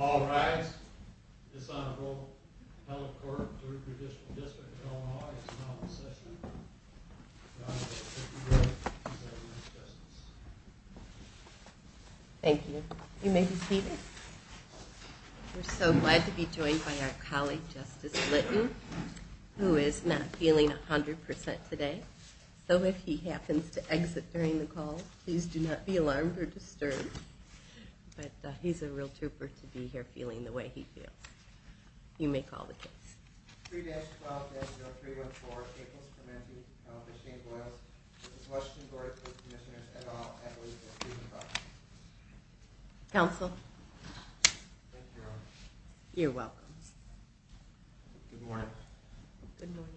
All rise. This Honorable Hello Court of the Judicial District of Omaha is now in session with the Honorable Tracey Wright, Executive Justice. Thank you. You may be seated. We're so glad to be joined by our colleague Justice Litton, who is not feeling 100% today. So if he happens to exit during the call, please do not be alarmed or disturbed. But he's a real trooper to be here feeling the way he feels. 3-12-0314, Capals Crementi, Honorable Shane Boyles. This is Washington Board of Police Commissioners at all. I believe that you may be proxy. Counsel. Thank you, Your Honor. You're welcome. Good morning. Good morning.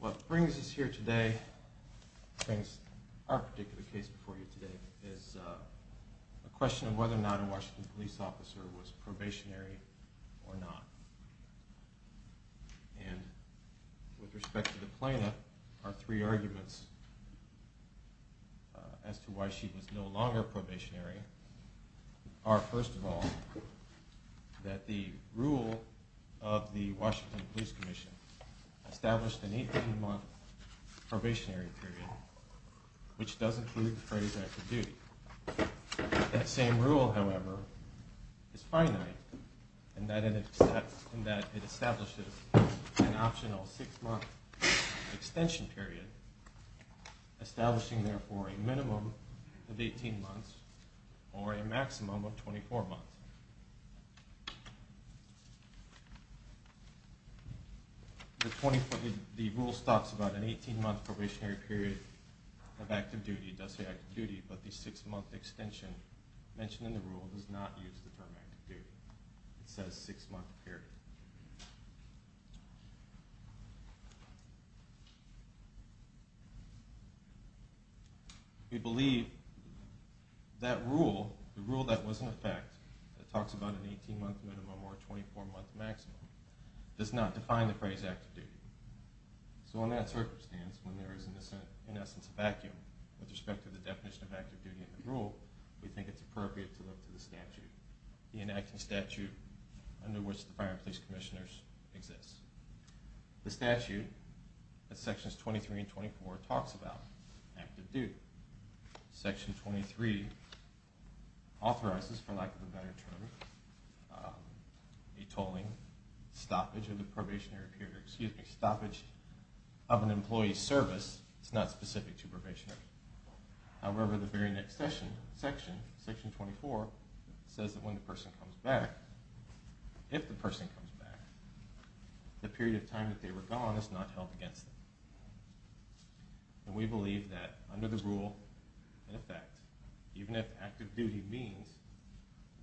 What brings us here today, brings our particular case before you today, is a question of whether or not a Washington police officer was probationary or not. And with respect to the plaintiff, our three arguments as to why she was no longer probationary are, first of all, that the rule of the Washington Police Commission established an 18-month probationary period, which does include the phrase active duty. That same rule, however, is finite in that it establishes an optional 6-month extension period, establishing, therefore, a minimum of 18 months or a maximum of 24 months. The rule stops about an 18-month probationary period of active duty, does say active duty, but the 6-month extension mentioned in the rule does not use the term active duty. It says 6-month period. We believe that rule, the rule that was in effect, that talks about an 18-month minimum or a 24-month maximum, does not define the phrase active duty. So in that circumstance, when there is, in essence, a vacuum with respect to the definition of active duty in the rule, we think it's appropriate to look to the statute, the enacting statute under which the fire and police commissioners exist. The statute, Sections 23 and 24, talks about active duty. Section 23 authorizes, for lack of a better term, a tolling, a stoppage of an employee's service. It's not specific to probationary. However, the very next section, Section 24, says that when the person comes back, if the person comes back, the period of time that they were gone is not held against them. And we believe that under the rule, in effect, even if active duty means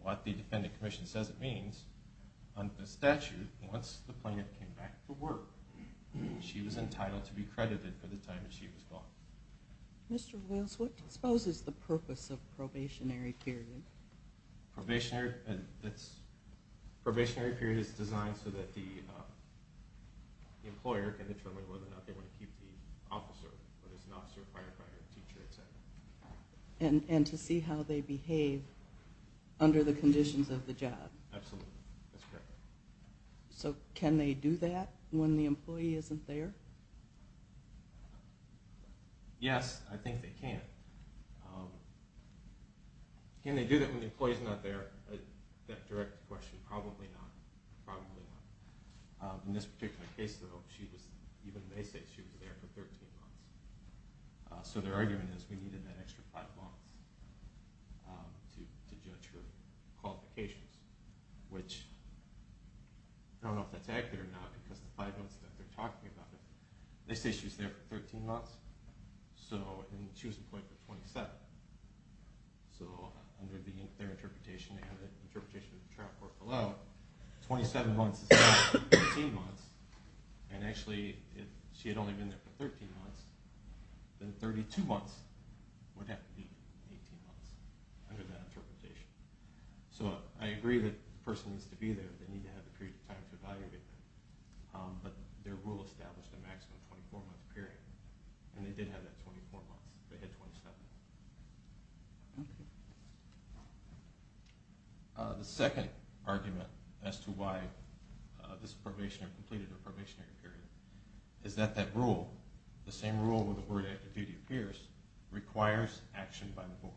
what the defendant commission says it means, under the statute, once the plaintiff came back from work, she was entitled to be credited for the time that she was gone. Mr. Wills, what disposes the purpose of probationary period? Probationary period is designed so that the employer can determine whether or not they want to keep the officer, whether it's an officer, a firefighter, a teacher, etc. And to see how they behave under the conditions of the job. Absolutely. That's correct. So can they do that when the employee isn't there? Yes, I think they can. Can they do that when the employee's not there? That direct question, probably not. In this particular case, though, even they say she was there for 13 months. So their argument is we needed that extra 5 months to judge her qualifications. Which, I don't know if that's accurate or not, because the 5 months that they're talking about, they say she was there for 13 months, and she was employed for 27. So under their interpretation, and the interpretation of the trial court below, 27 months is not 18 months. And actually, if she had only been there for 13 months, then 32 months would have to be 18 months under that interpretation. So I agree that the person needs to be there, they need to have the period of time to evaluate that. But their rule established a maximum 24 month period, and they did have that 24 months. They had 27. Okay. The second argument as to why this probationary period is that that rule, the same rule where the word active duty appears, requires action by the board.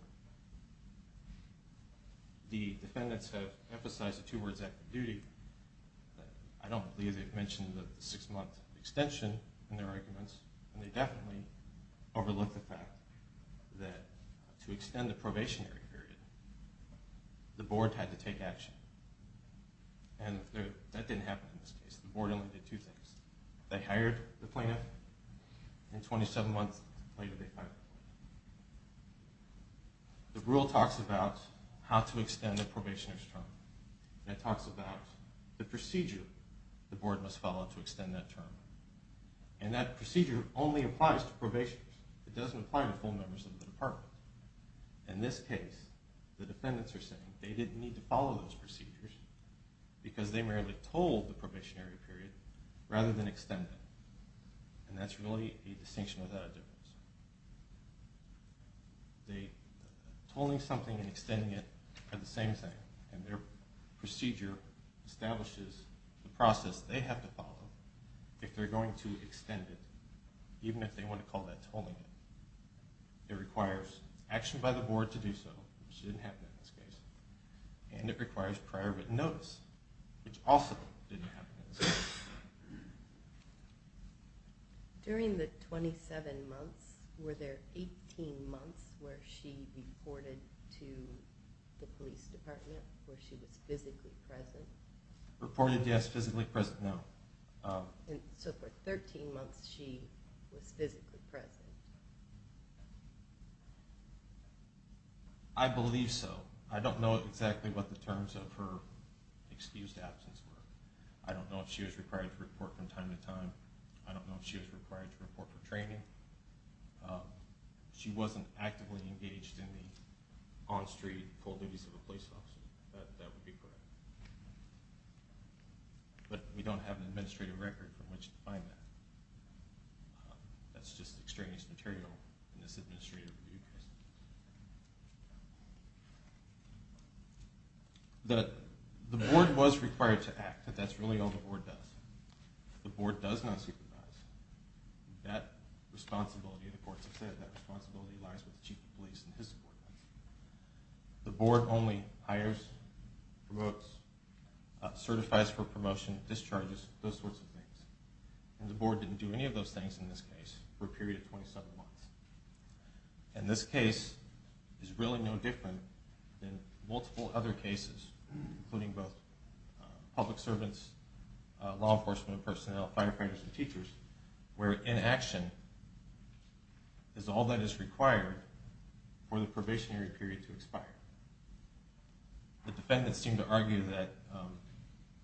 The defendants have emphasized the two words active duty. I don't believe they've mentioned the 6 month extension in their arguments. And they definitely overlook the fact that to extend the probationary period, the board had to take action. And that didn't happen in this case. The board only did two things. They hired the plaintiff, and 27 months later they fired the plaintiff. The rule talks about how to extend a probationer's term. It talks about the procedure the board must follow to extend that term. And that procedure only applies to probationers. It doesn't apply to full members of the department. In this case, the defendants are saying they didn't need to follow those procedures because they merely told the probationary period rather than extend it. And that's really a distinction without a difference. Tolling something and extending it are the same thing, and their procedure establishes the process they have to follow if they're going to extend it, even if they want to call that tolling it. It requires action by the board to do so, which didn't happen in this case. And it requires prior written notice, which also didn't happen in this case. During the 27 months, were there 18 months where she reported to the police department where she was physically present? Reported, yes. Physically present, no. So for 13 months she was physically present? I believe so. I don't know exactly what the terms of her excused absence were. I don't know if she was required to report from time to time. I don't know if she was required to report for training. She wasn't actively engaged in the on-street full duties of a police officer. That would be correct. But we don't have an administrative record from which to find that. That's just extraneous material in this administrative review process. The board was required to act, but that's really all the board does. If the board does not supervise, that responsibility, the courts have said, that responsibility lies with the chief of police and his subordinates. The board only hires, promotes, certifies for promotion, discharges, those sorts of things. And the board didn't do any of those things in this case for a period of 27 months. And this case is really no different than multiple other cases, including both public servants, law enforcement personnel, firefighters and teachers, where inaction is all that is required for the probationary period to expire. The defendants seem to argue that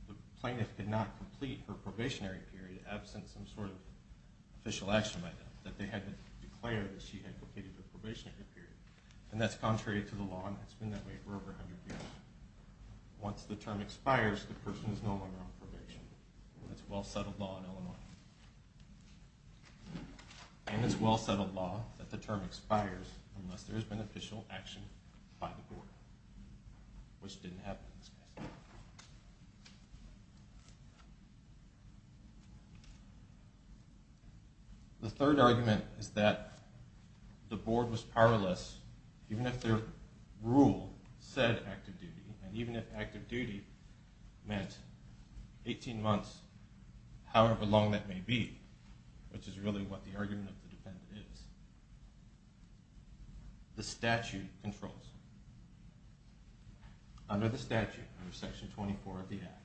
the plaintiff could not complete her probationary period absent some sort of official action by them, that they hadn't declared that she had completed her probationary period. And that's contrary to the law, and it's been that way for over 100 years. Once the term expires, the person is no longer on probation. That's well-settled law in Illinois. And it's well-settled law that the term expires unless there is beneficial action by the board, which didn't happen in this case. The third argument is that the board was powerless even if their rule said active duty. And even if active duty meant 18 months, however long that may be, which is really what the argument of the defendant is. The statute controls. Under the statute, under Section 24 of the Act,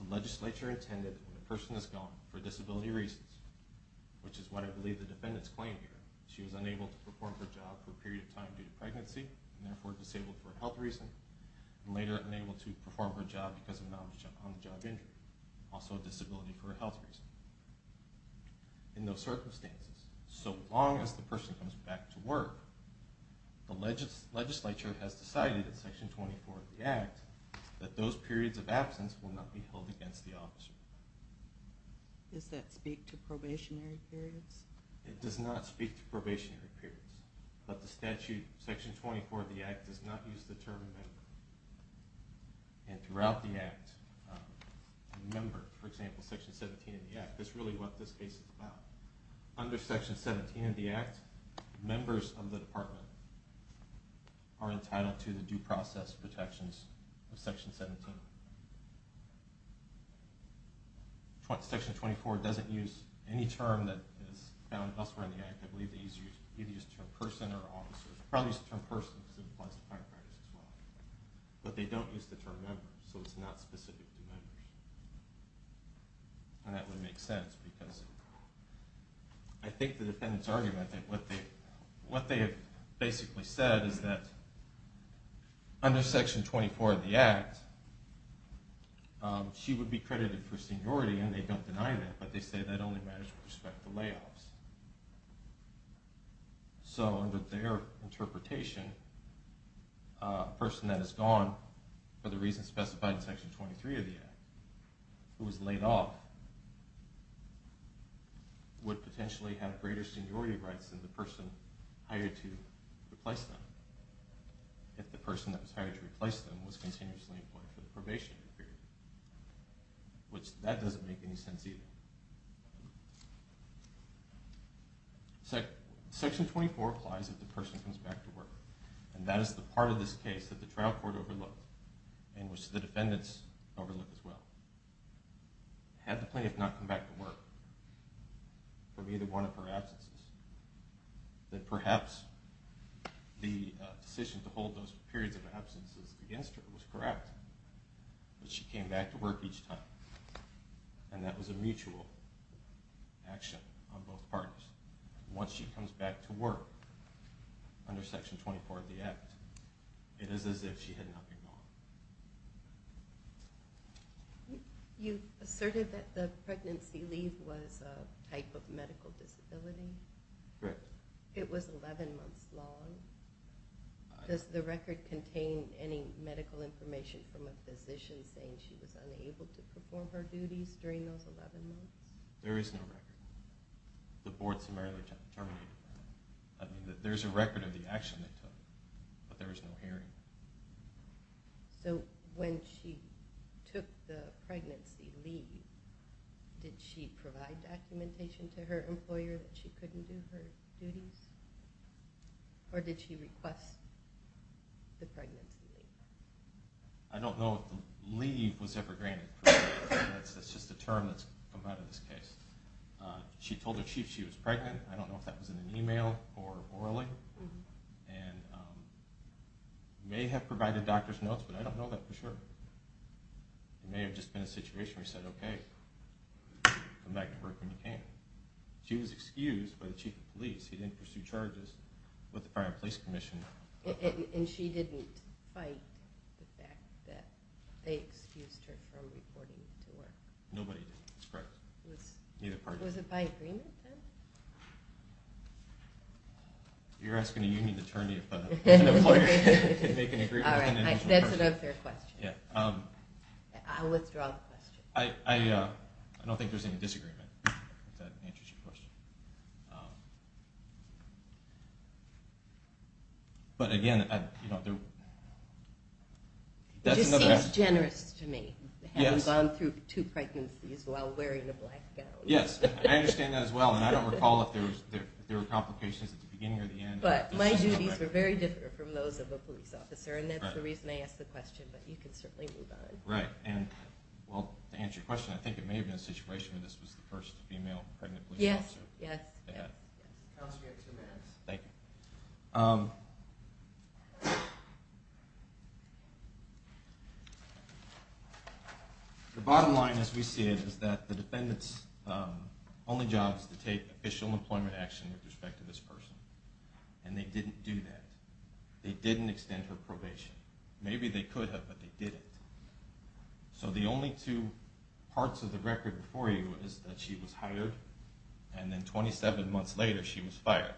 the legislature intended that when a person is gone for disability reasons, which is what I believe the defendants claim here, she was unable to perform her job for a period of time due to pregnancy, and therefore disabled for a health reason, and later unable to perform her job because of an on-the-job injury. Also a disability for a health reason. In those circumstances, so long as the person comes back to work, the legislature has decided in Section 24 of the Act that those periods of absence will not be held against the officer. Does that speak to probationary periods? It does not speak to probationary periods. But the statute, Section 24 of the Act, does not use the term available. And throughout the Act, remember, for example, Section 17 of the Act, that's really what this case is about. Under Section 17 of the Act, members of the department are entitled to the due process protections of Section 17. Section 24 doesn't use any term that is found elsewhere in the Act. I believe they either use the term person or officer. They probably use the term person because it applies to firefighters as well. But they don't use the term member, so it's not specific to members. And that would make sense because I think the defendants' argument that what they have basically said is that under Section 24 of the Act, she would be credited for seniority, and they don't deny that, but they say that only matters with respect to layoffs. So under their interpretation, a person that is gone for the reasons specified in Section 23 of the Act, who was laid off, would potentially have greater seniority rights than the person hired to replace them, if the person that was hired to replace them was continuously employed for the probationary period. Which, that doesn't make any sense either. Section 24 applies if the person comes back to work. And that is the part of this case that the trial court overlooked, and which the defendants overlooked as well. Had the plaintiff not come back to work from either one of her absences, then perhaps the decision to hold those periods of absences against her was correct. But she came back to work each time, and that was a mutual action on both parties. Once she comes back to work under Section 24 of the Act, it is as if she had nothing more. You asserted that the pregnancy leave was a type of medical disability. Correct. It was 11 months long? Does the record contain any medical information from a physician saying she was unable to perform her duties during those 11 months? There is no record. The board summarily terminated that. There is a record of the action they took, but there is no hearing. So when she took the pregnancy leave, did she provide documentation to her employer that she couldn't do her duties? Or did she request the pregnancy leave? I don't know if the leave was ever granted. That's just a term that's come out of this case. She told her chief she was pregnant. I don't know if that was in an email or orally. She may have provided doctor's notes, but I don't know that for sure. It may have just been a situation where she said, okay, come back to work when you can. She was excused by the chief of police. He didn't pursue charges with the Fire and Police Commission. And she didn't fight the fact that they excused her from reporting to work? Nobody did, that's correct. Was it by agreement then? You're asking a union attorney if an employer can make an agreement with an individual. All right, that's an unfair question. I withdraw the question. I don't think there's any disagreement, if that answers your question. But, again, that's another aspect. It just seems generous to me, having gone through two pregnancies while wearing a black gown. Yes, I understand that as well. And I don't recall if there were complications at the beginning or the end. But my duties were very different from those of a police officer. And that's the reason I asked the question, but you can certainly move on. Right. And, well, to answer your question, I think it may have been a situation where this was the first female pregnant police officer. Yes, yes, yes. Counsel, you have two minutes. Thank you. The bottom line, as we see it, is that the defendant's only job is to take official employment action with respect to this person. And they didn't do that. They didn't extend her probation. Maybe they could have, but they didn't. So the only two parts of the record before you is that she was hired, and then 27 months later she was fired.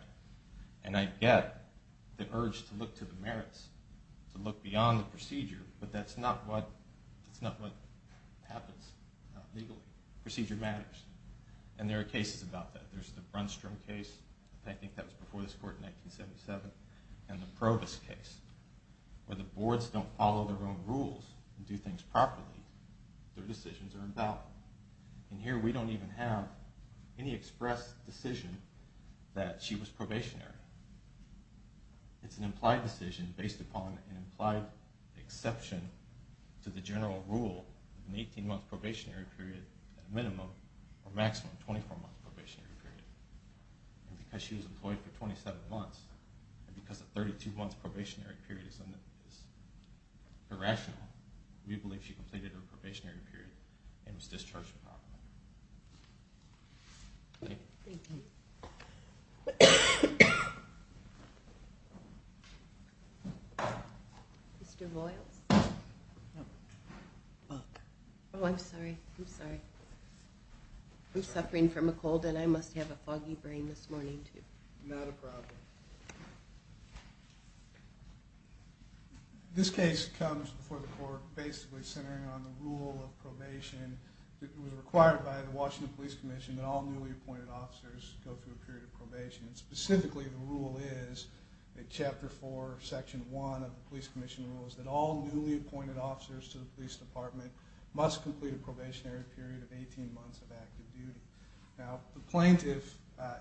And I get the urge to look to the merits, to look beyond the procedure, but that's not what happens legally. Procedure matters. And there are cases about that. There's the Brunstrom case. I think that was before this court in 1977. And the Probus case, where the boards don't follow their own rules and do things properly. Their decisions are endowed. And here we don't even have any express decision that she was probationary. It's an implied decision based upon an implied exception to the general rule of an 18-month probationary period at a minimum, or maximum 24-month probationary period. And because she was employed for 27 months, and because a 32-month probationary period is irrational, we believe she completed her probationary period and was discharged from the office. Thank you. Thank you. Mr. Boyles? No. Oh, I'm sorry. I'm sorry. I'm suffering from a cold, and I must have a foggy brain this morning, too. Not a problem. This case comes before the court basically centering on the rule of probation that was required by the Washington Police Commission that all newly appointed officers go through a period of probation. Specifically, the rule is, in Chapter 4, Section 1 of the Police Commission rules, that all newly appointed officers to the police department must complete a probationary period of 18 months of active duty. Now, the plaintiff,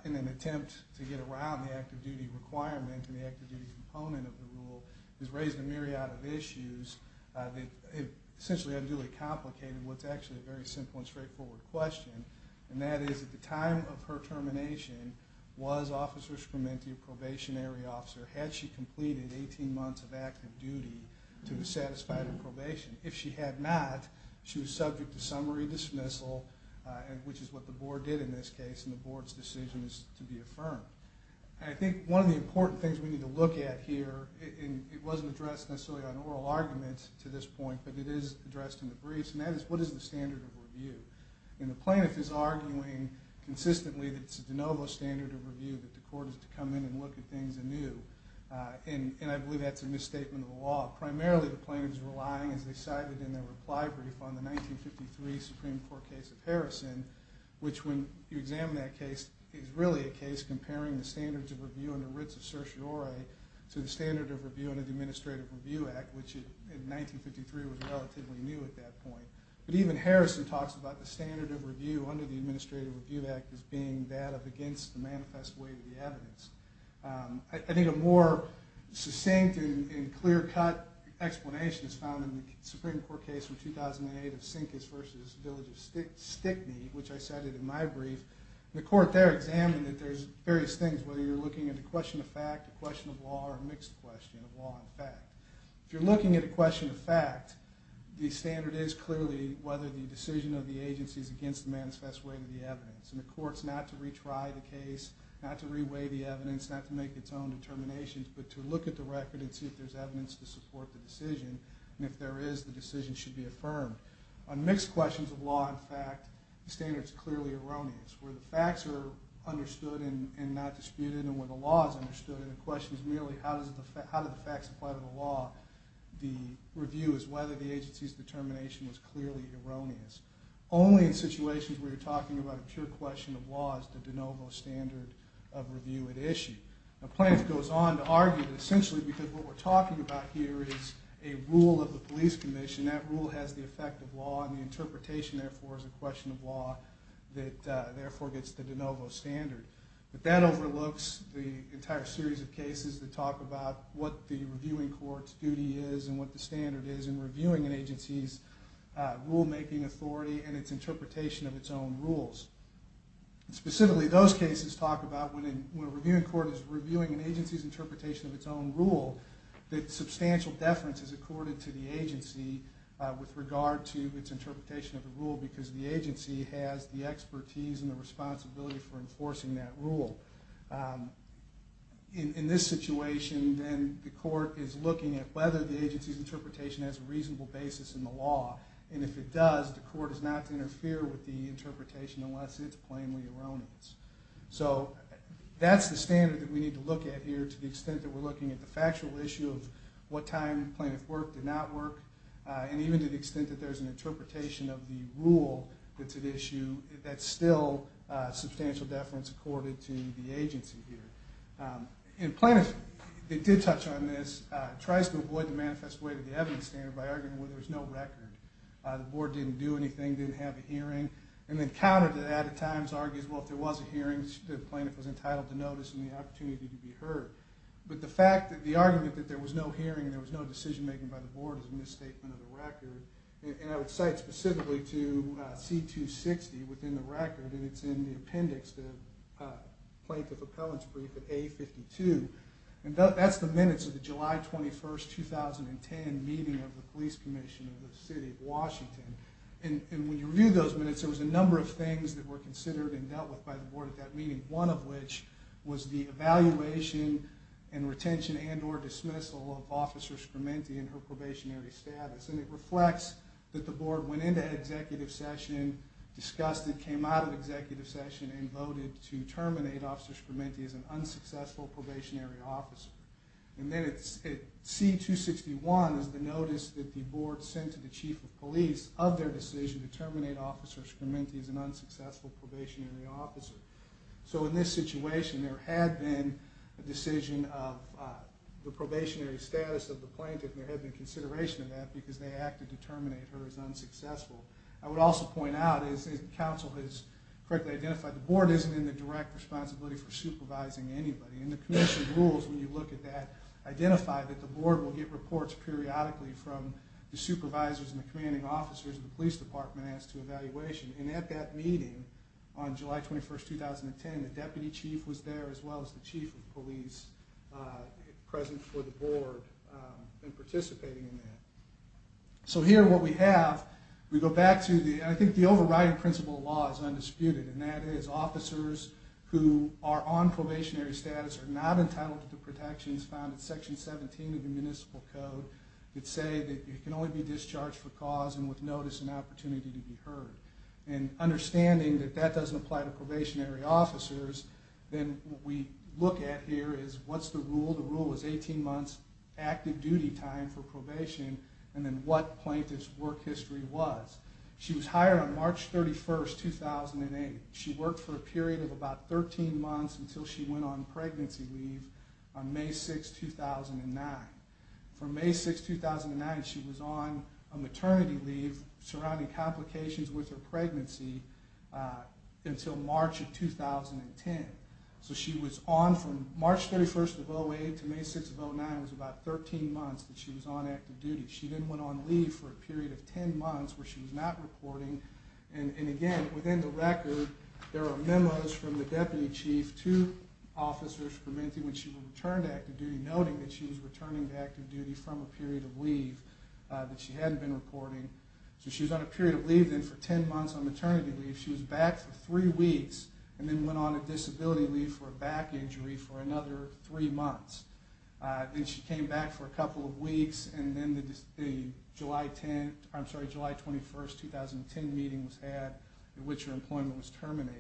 in an attempt to get around the active duty requirement and the active duty component of the rule, has raised a myriad of issues that have essentially unduly complicated what's actually a very simple and straightforward question. And that is, at the time of her termination, was Officer Scraminti a probationary officer? Had she completed 18 months of active duty to satisfy her probation? If she had not, she was subject to summary dismissal, which is what the board did in this case, and the board's decision is to be affirmed. And I think one of the important things we need to look at here, and it wasn't addressed necessarily on oral argument to this point, but it is addressed in the briefs, and that is, what is the standard of review? And the plaintiff is arguing consistently that it's a de novo standard of review, that the court is to come in and look at things anew, and I believe that's a misstatement of the law. Primarily, the plaintiff is relying, as they cited in their reply brief, on the 1953 Supreme Court case of Harrison, which, when you examine that case, is really a case comparing the standards of review under writs of certiorari to the standard of review under the Administrative Review Act, which in 1953 was relatively new at that point. But even Harrison talks about the standard of review under the Administrative Review Act as being that of against the manifest way of the evidence. I think a more succinct and clear-cut explanation is found in the Supreme Court case from 2008 of Sinkis v. Village of Stickney, which I cited in my brief. The court there examined that there's various things, whether you're looking at a question of fact, a question of law, or a mixed question of law and fact. If you're looking at a question of fact, the standard is clearly whether the decision of the agency is against the manifest way of the evidence, and the court's not to retry the case, not to re-weigh the evidence, not to make its own determinations, but to look at the record and see if there's evidence to support the decision, and if there is, the decision should be affirmed. On mixed questions of law and fact, the standard is clearly erroneous. Where the facts are understood and not disputed and where the law is understood and the question is merely how do the facts apply to the law, the review is whether the agency's determination was clearly erroneous. Only in situations where you're talking about a pure question of law is the de novo standard of review at issue. The plaintiff goes on to argue that essentially because what we're talking about here is a rule of the police commission, that rule has the effect of law and the interpretation therefore is a question of law that therefore gets the de novo standard. But that overlooks the entire series of cases that talk about what the reviewing court's duty is and what the standard is in reviewing an agency's rulemaking authority and its interpretation of its own rules. Specifically, those cases talk about when a reviewing court is reviewing an agency's interpretation of its own rule, that substantial deference is accorded to the agency with regard to its interpretation of the rule because the agency has the expertise and the responsibility for enforcing that rule. In this situation, then the court is looking at whether the agency's interpretation has a reasonable basis in the law and if it does, the court is not to interfere with the interpretation unless it's plainly erroneous. So that's the standard that we need to look at here to the extent that we're looking at the factual issue of what time the plaintiff worked or did not work and even to the extent that there's an interpretation of the rule that's at issue that's still substantial deference accorded to the agency here. And plaintiffs that did touch on this tries to avoid the manifest way to the evidence standard by arguing where there's no record. The board didn't do anything, didn't have a hearing, and then counter to that at times argues, well, if there was a hearing, the plaintiff was entitled to notice and the opportunity to be heard. But the fact that the argument that there was no hearing, there was no decision-making by the board is a misstatement of the record. And I would cite specifically to C-260 within the record, and it's in the appendix, the plaintiff appellant's brief at A-52. And that's the minutes of the July 21st, 2010 meeting of the police commission of the city of Washington. And when you review those minutes, there was a number of things that were considered and dealt with by the board at that meeting, one of which was the evaluation and retention and or dismissal of Officer Scrementi and her probationary status. And it reflects that the board went into executive session, discussed it, came out of executive session, and voted to terminate Officer Scrementi as an unsuccessful probationary officer. And then at C-261 is the notice that the board sent to the chief of police of their decision to terminate Officer Scrementi as an unsuccessful probationary officer. So in this situation, there had been a decision of the probationary status of the plaintiff and there had been consideration of that because they acted to terminate her as unsuccessful. I would also point out, as counsel has correctly identified, the board isn't in the direct responsibility for supervising anybody. And the commission rules, when you look at that, identify that the board will get reports periodically from the supervisors and the commanding officers and the police department as to evaluation. And at that meeting on July 21st, 2010, the deputy chief was there as well as the chief of police present for the board and participating in that. So here what we have, we go back to the, I think the overriding principle of law is undisputed, and that is officers who are on probationary status are not entitled to protections found in Section 17 of the Municipal Code that say that you can only be discharged for cause and with notice and opportunity to be heard. And understanding that that doesn't apply to probationary officers, then what we look at here is what's the rule. The rule is 18 months active duty time for probation and then what plaintiff's work history was. She was hired on March 31st, 2008. She worked for a period of about 13 months until she went on pregnancy leave on May 6th, 2009. From May 6th, 2009, she was on a maternity leave surrounding complications with her pregnancy until March of 2010. So she was on from March 31st of 2008 to May 6th of 2009, it was about 13 months that she was on active duty. She then went on leave for a period of 10 months where she was not reporting. And again, within the record, there are memos from the deputy chief to officers when she returned to active duty, that she hadn't been reporting. So she was on a period of leave then for 10 months on maternity leave. She was back for three weeks and then went on a disability leave for a back injury for another three months. Then she came back for a couple of weeks and then the July 21st, 2010 meeting was had in which her employment was terminated.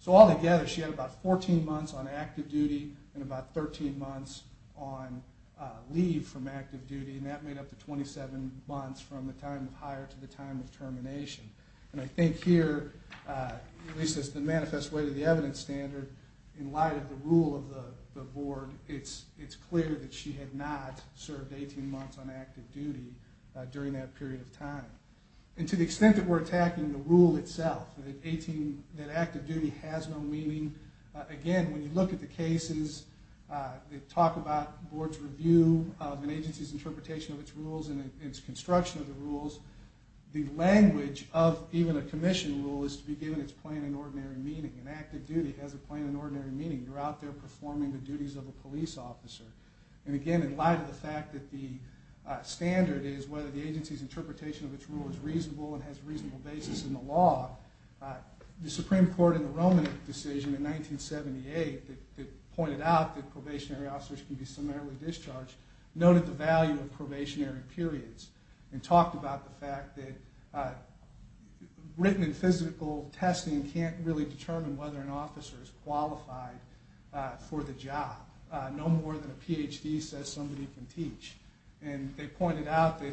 So all together, she had about 14 months on active duty and about 13 months on leave from active duty and that made up the 27 months from the time of hire to the time of termination. And I think here, at least as the manifest way to the evidence standard, in light of the rule of the board, it's clear that she had not served 18 months on active duty during that period of time. And to the extent that we're attacking the rule itself, again, when you look at the cases, they talk about board's review of an agency's interpretation of its rules and its construction of the rules. The language of even a commission rule is to be given its plain and ordinary meaning. An active duty has a plain and ordinary meaning. You're out there performing the duties of a police officer. And again, in light of the fact that the standard is whether the agency's interpretation of its rule is reasonable and has a reasonable basis in the law, the Supreme Court in the Roman decision in 1978 that pointed out that probationary officers can be summarily discharged noted the value of probationary periods and talked about the fact that written and physical testing can't really determine whether an officer is qualified for the job no more than a PhD says somebody can teach. And they pointed out that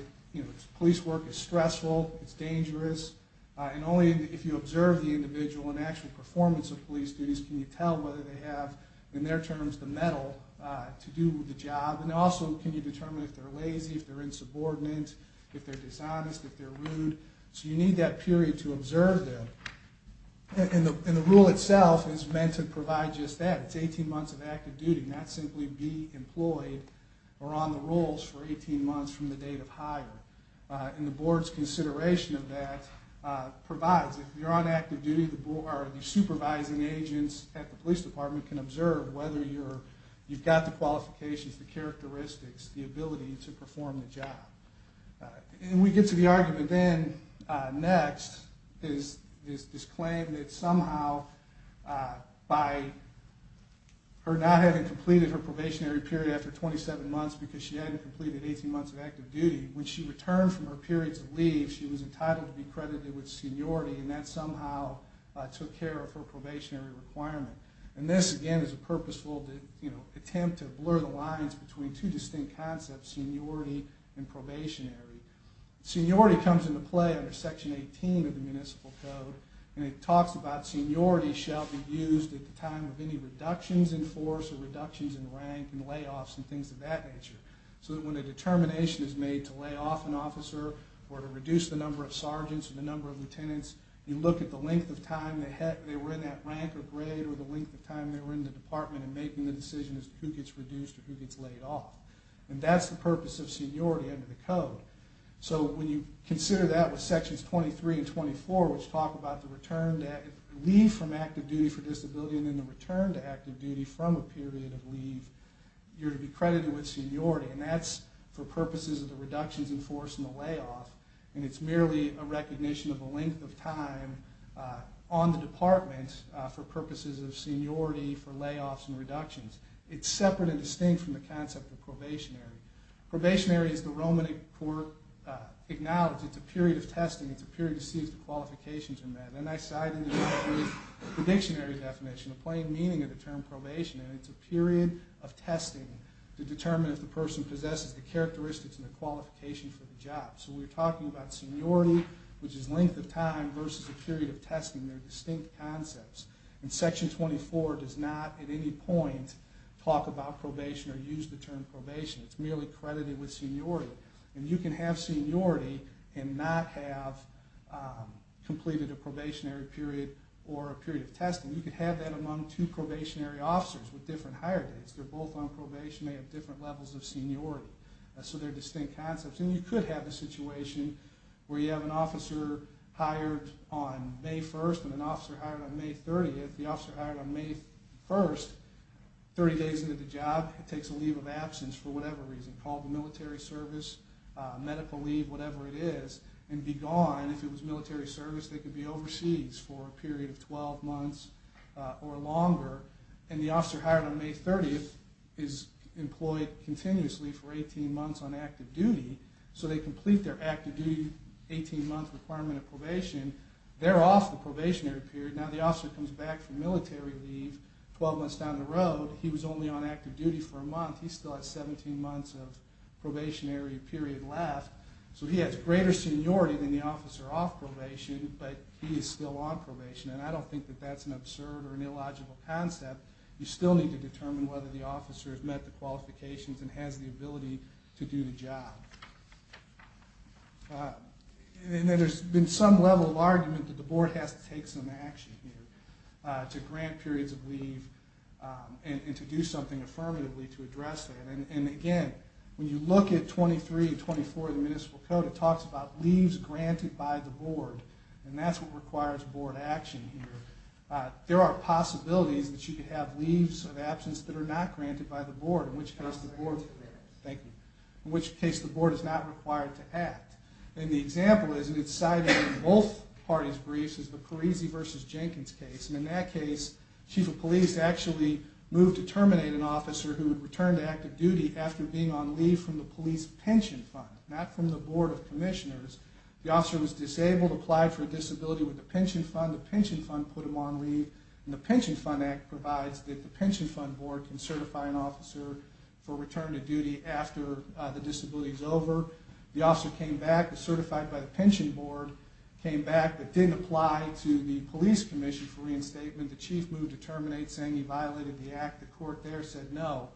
police work is stressful, it's dangerous, and only if you observe the individual and actual performance of police duties can you tell whether they have, in their terms, the mettle to do the job. And also can you determine if they're lazy, if they're insubordinate, if they're dishonest, if they're rude. So you need that period to observe them. And the rule itself is meant to provide just that. It's 18 months of active duty, not simply be employed or on the rolls for 18 months from the date of hire. And the board's consideration of that provides if you're on active duty, the supervising agents at the police department can observe whether you've got the qualifications, the characteristics, the ability to perform the job. And we get to the argument then, next, is this claim that somehow by her not having completed her probationary period after 27 months because she hadn't completed 18 months of active duty, when she returned from her periods of leave, she was entitled to be credited with seniority and that somehow took care of her probationary requirement. And this, again, is a purposeful attempt to blur the lines between two distinct concepts, seniority and probationary. Seniority comes into play under Section 18 of the Municipal Code and it talks about seniority shall be used at the time of any reductions in force or reductions in rank and layoffs and things of that nature. So that when a determination is made to lay off an officer or to reduce the number of sergeants or the number of lieutenants, you look at the length of time they were in that rank or grade or the length of time they were in the department and making the decision as to who gets reduced or who gets laid off. And that's the purpose of seniority under the Code. So when you consider that with Sections 23 and 24, which talk about the leave from active duty for disability and then the return to active duty from a period of leave, you're to be credited with seniority. And that's for purposes of the reductions in force and the layoff. And it's merely a recognition of the length of time on the department for purposes of seniority for layoffs and reductions. It's separate and distinct from the concept of probationary. Probationary is the Roman court acknowledged. It's a period of testing. It's a period to see if the qualifications are met. And I cite in the dictionary the dictionary definition, the plain meaning of the term probation. And it's a period of testing to determine if the person possesses the characteristics and the qualifications for the job. So we're talking about seniority, which is length of time, versus a period of testing. They're distinct concepts. And Section 24 does not at any point talk about probation or use the term probation. It's merely credited with seniority. And you can have seniority and not have completed a probationary period or a period of testing. You can have that among two probationary officers with different hire dates. They're both on probation. They have different levels of seniority. So they're distinct concepts. And you could have a situation where you have an officer hired on May 1st and an officer hired on May 30th. The officer hired on May 1st, 30 days into the job, takes a leave of absence for whatever reason, called the military service, medical leave, whatever it is, and be gone. If it was military service, they could be overseas for a period of 12 months or longer. And the officer hired on May 30th is employed continuously for 18 months on active duty. So they complete their active duty 18-month requirement of probation. They're off the probationary period. Now the officer comes back from military leave 12 months down the road. He was only on active duty for a month. He still has 17 months of probationary period left. So he has greater seniority than the officer off probation, but he is still on probation. And I don't think that that's an absurd or an illogical concept. You still need to determine whether the officer has met the qualifications and has the ability to do the job. And then there's been some level of argument that the board has to take some action here to grant periods of leave and to do something affirmatively to address that. And, again, when you look at 23 and 24 of the municipal code, it talks about leaves granted by the board, and that's what requires board action here. There are possibilities that you could have leaves of absence that are not granted by the board, in which case the board is not required to act. And the example is, and it's cited in both parties' briefs, is the Parisi v. Jenkins case. And in that case, chief of police actually moved to terminate an officer who had returned to active duty after being on leave from the police pension fund, not from the board of commissioners. The officer was disabled, applied for a disability with the pension fund. The pension fund put him on leave, and the pension fund act provides that the pension fund board can certify an officer for return to duty after the disability is over. The officer came back, was certified by the pension board, came back but didn't apply to the police commission for reinstatement. The chief moved to terminate, saying he violated the act. The court there said no.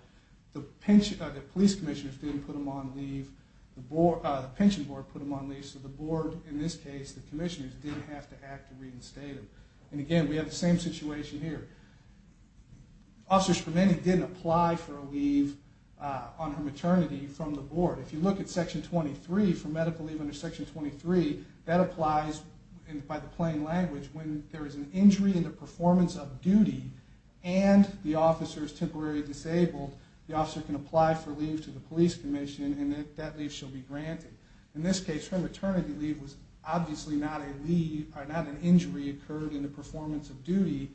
The police commissioners didn't put him on leave. The pension board put him on leave. So the board, in this case, the commissioners, didn't have to act to reinstate him. And again, we have the same situation here. Officer Scramini didn't apply for a leave on her maternity from the board. If you look at Section 23, for medical leave under Section 23, that applies by the plain language. When there is an injury in the performance of duty and the officer is temporarily disabled, the officer can apply for leave to the police commission, and that leave shall be granted. In this case, her maternity leave was obviously not a leave, not an injury occurred in the performance of duty,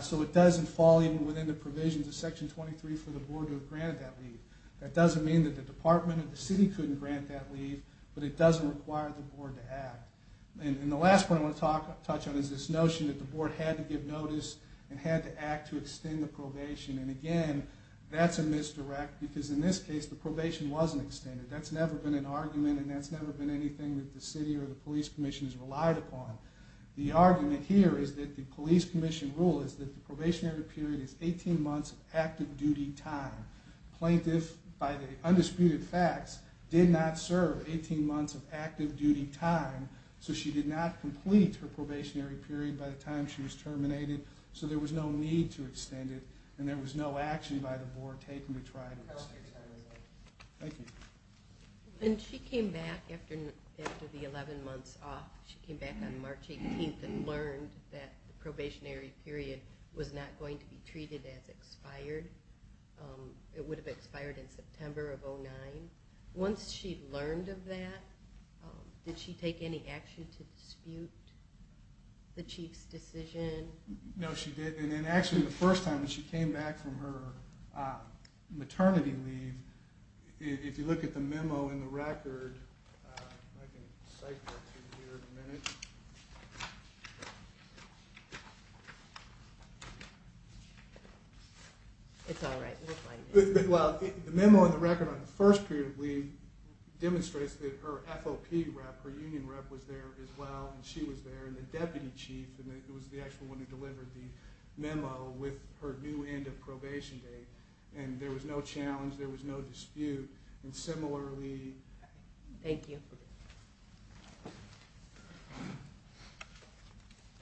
so it doesn't fall even within the provisions of Section 23 for the board to grant that leave. That doesn't mean that the department or the city couldn't grant that leave, but it doesn't require the board to act. And the last point I want to touch on is this notion that the board had to give notice and had to act to extend the probation. And again, that's a misdirect, because in this case, the probation wasn't extended. That's never been an argument, and that's never been anything that the city or the police commission has relied upon. The argument here is that the police commission rule is that the probationary period is 18 months of active duty time. The plaintiff, by the undisputed facts, did not serve 18 months of active duty time, so she did not complete her probationary period by the time she was terminated. So there was no need to extend it, and there was no action by the board taken to try to extend it. Thank you. When she came back after the 11 months off, she came back on March 18th and learned that the probationary period was not going to be treated as expired. It would have expired in September of 2009. Once she learned of that, did she take any action to dispute the chief's decision? No, she didn't. Actually, the first time that she came back from her maternity leave, if you look at the memo in the record, the memo in the record on the first period of leave demonstrates that her FOP rep, her union rep, was there as well, and she was there, and the deputy chief was the actual one who delivered the memo with her new end of probation date, and there was no challenge, there was no dispute. And similarly... Thank you. Okay.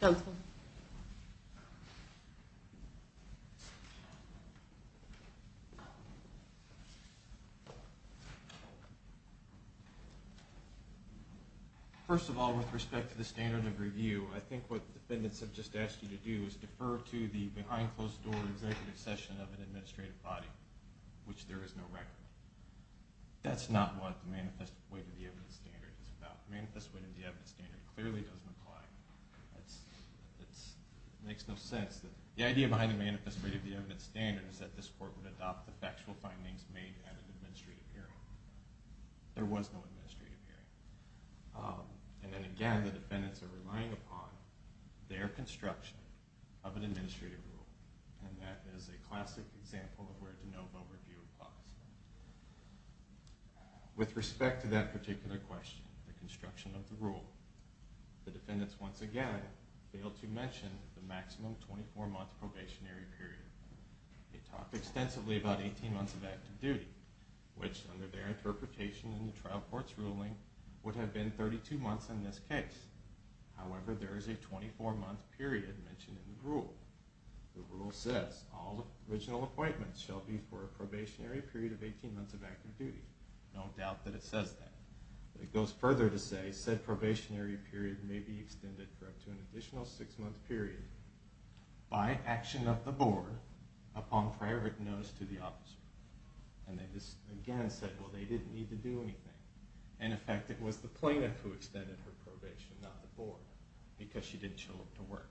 Counsel. First of all, with respect to the standard of review, I think what the defendants have just asked you to do is defer to the behind-closed-door executive session of an administrative body, which there is no record. That's not what the Manifest Weight of the Evidence standard is about. The Manifest Weight of the Evidence standard clearly doesn't apply. It makes no sense. The idea behind the Manifest Weight of the Evidence standard is that this court would adopt the factual findings made at an administrative hearing. There was no administrative hearing. And then again, the defendants are relying upon their construction of an administrative rule, and that is a classic example of where de novo review applies. With respect to that particular question, the construction of the rule, the defendants once again failed to mention the maximum 24-month probationary period. They talked extensively about 18 months of active duty, which under their interpretation in the trial court's ruling would have been 32 months in this case. However, there is a 24-month period mentioned in the rule. The rule says, all original appointments shall be for a probationary period of 18 months of active duty. No doubt that it says that. But it goes further to say, said probationary period may be extended for up to an additional six-month period by action of the board upon prior notice to the officer. And they just again said, well, they didn't need to do anything. In effect, it was the plaintiff who extended her probation, not the board, because she didn't show up to work.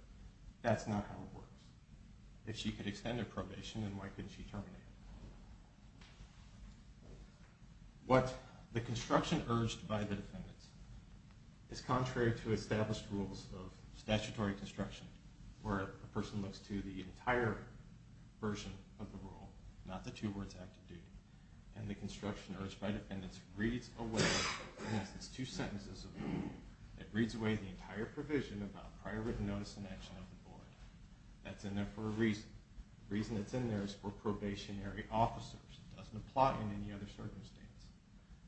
That's not how it works. If she could extend her probation, then why couldn't she terminate it? What the construction urged by the defendants is contrary to established rules of statutory construction, where a person looks to the entire version of the rule, not the two words active duty. And the construction urged by defendants reads away, in essence, two sentences of the rule. It reads away the entire provision about prior written notice and action of the board. That's in there for a reason. The reason it's in there is for probationary officers. It doesn't apply in any other circumstance.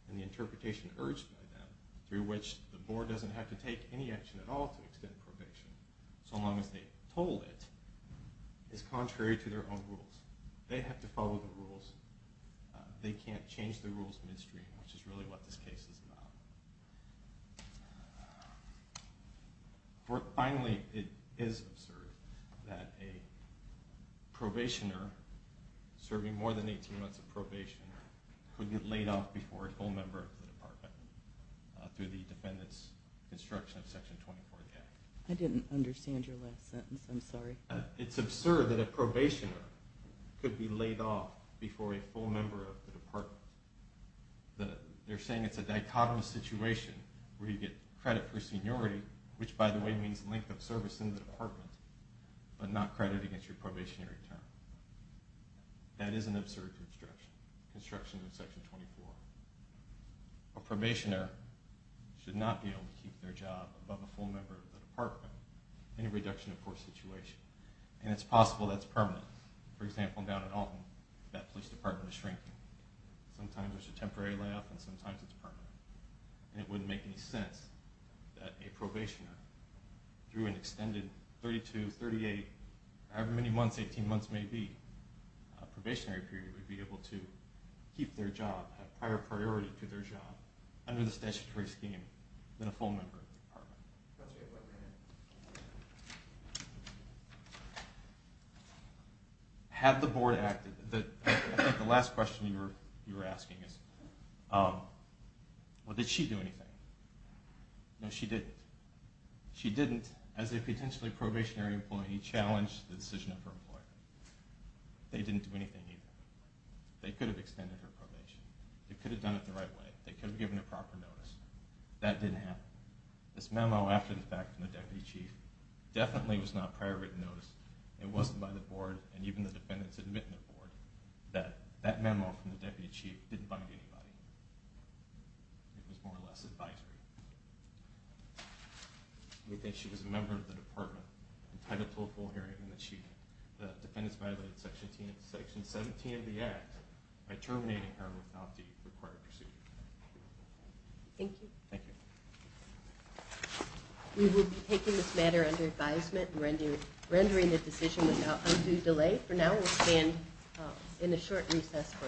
And the interpretation urged by them, through which the board doesn't have to take any action at all to extend probation, so long as they told it, is contrary to their own rules. They have to follow the rules. They can't change the rules midstream, which is really what this case is about. Finally, it is absurd that a probationer serving more than 18 months of probation could get laid off before a full member of the department through the defendant's construction of Section 24 of the Act. I didn't understand your last sentence. I'm sorry. It's absurd that a probationer could be laid off before a full member of the department. They're saying it's a dichotomous situation where you get credit for seniority, which, by the way, means length of service in the department, but not credit against your probationary term. That is an absurd construction, construction of Section 24. A probationer should not be able to keep their job above a full member of the department in a reduction-of-course situation. And it's possible that's permanent. For example, down in Alton, that police department is shrinking. Sometimes it's a temporary layoff, and sometimes it's permanent. And it wouldn't make any sense that a probationer, through an extended 32, 38, however many months, 18 months may be, probationary period, would be able to keep their job, have prior priority to their job under the statutory scheme than a full member of the department. Have the board acted... I think the last question you were asking is... Well, did she do anything? No, she didn't. She didn't, as a potentially probationary employee, challenge the decision of her employer. They didn't do anything either. They could have extended her probation. They could have done it the right way. They could have given a proper notice. That didn't happen. This memo after the fact from the deputy chief definitely was not prior written notice. It wasn't by the board, and even the defendants admit in the board that that memo from the deputy chief didn't bind anybody. It was more or less advisory. We think she was a member of the department entitled to a full hearing from the chief. The defendants violated Section 17 of the Act by terminating her without the required procedure. Thank you. Thank you. We will be taking this matter under advisement and rendering the decision with undue delay. Okay, for now we'll stand in a short recess for a panel.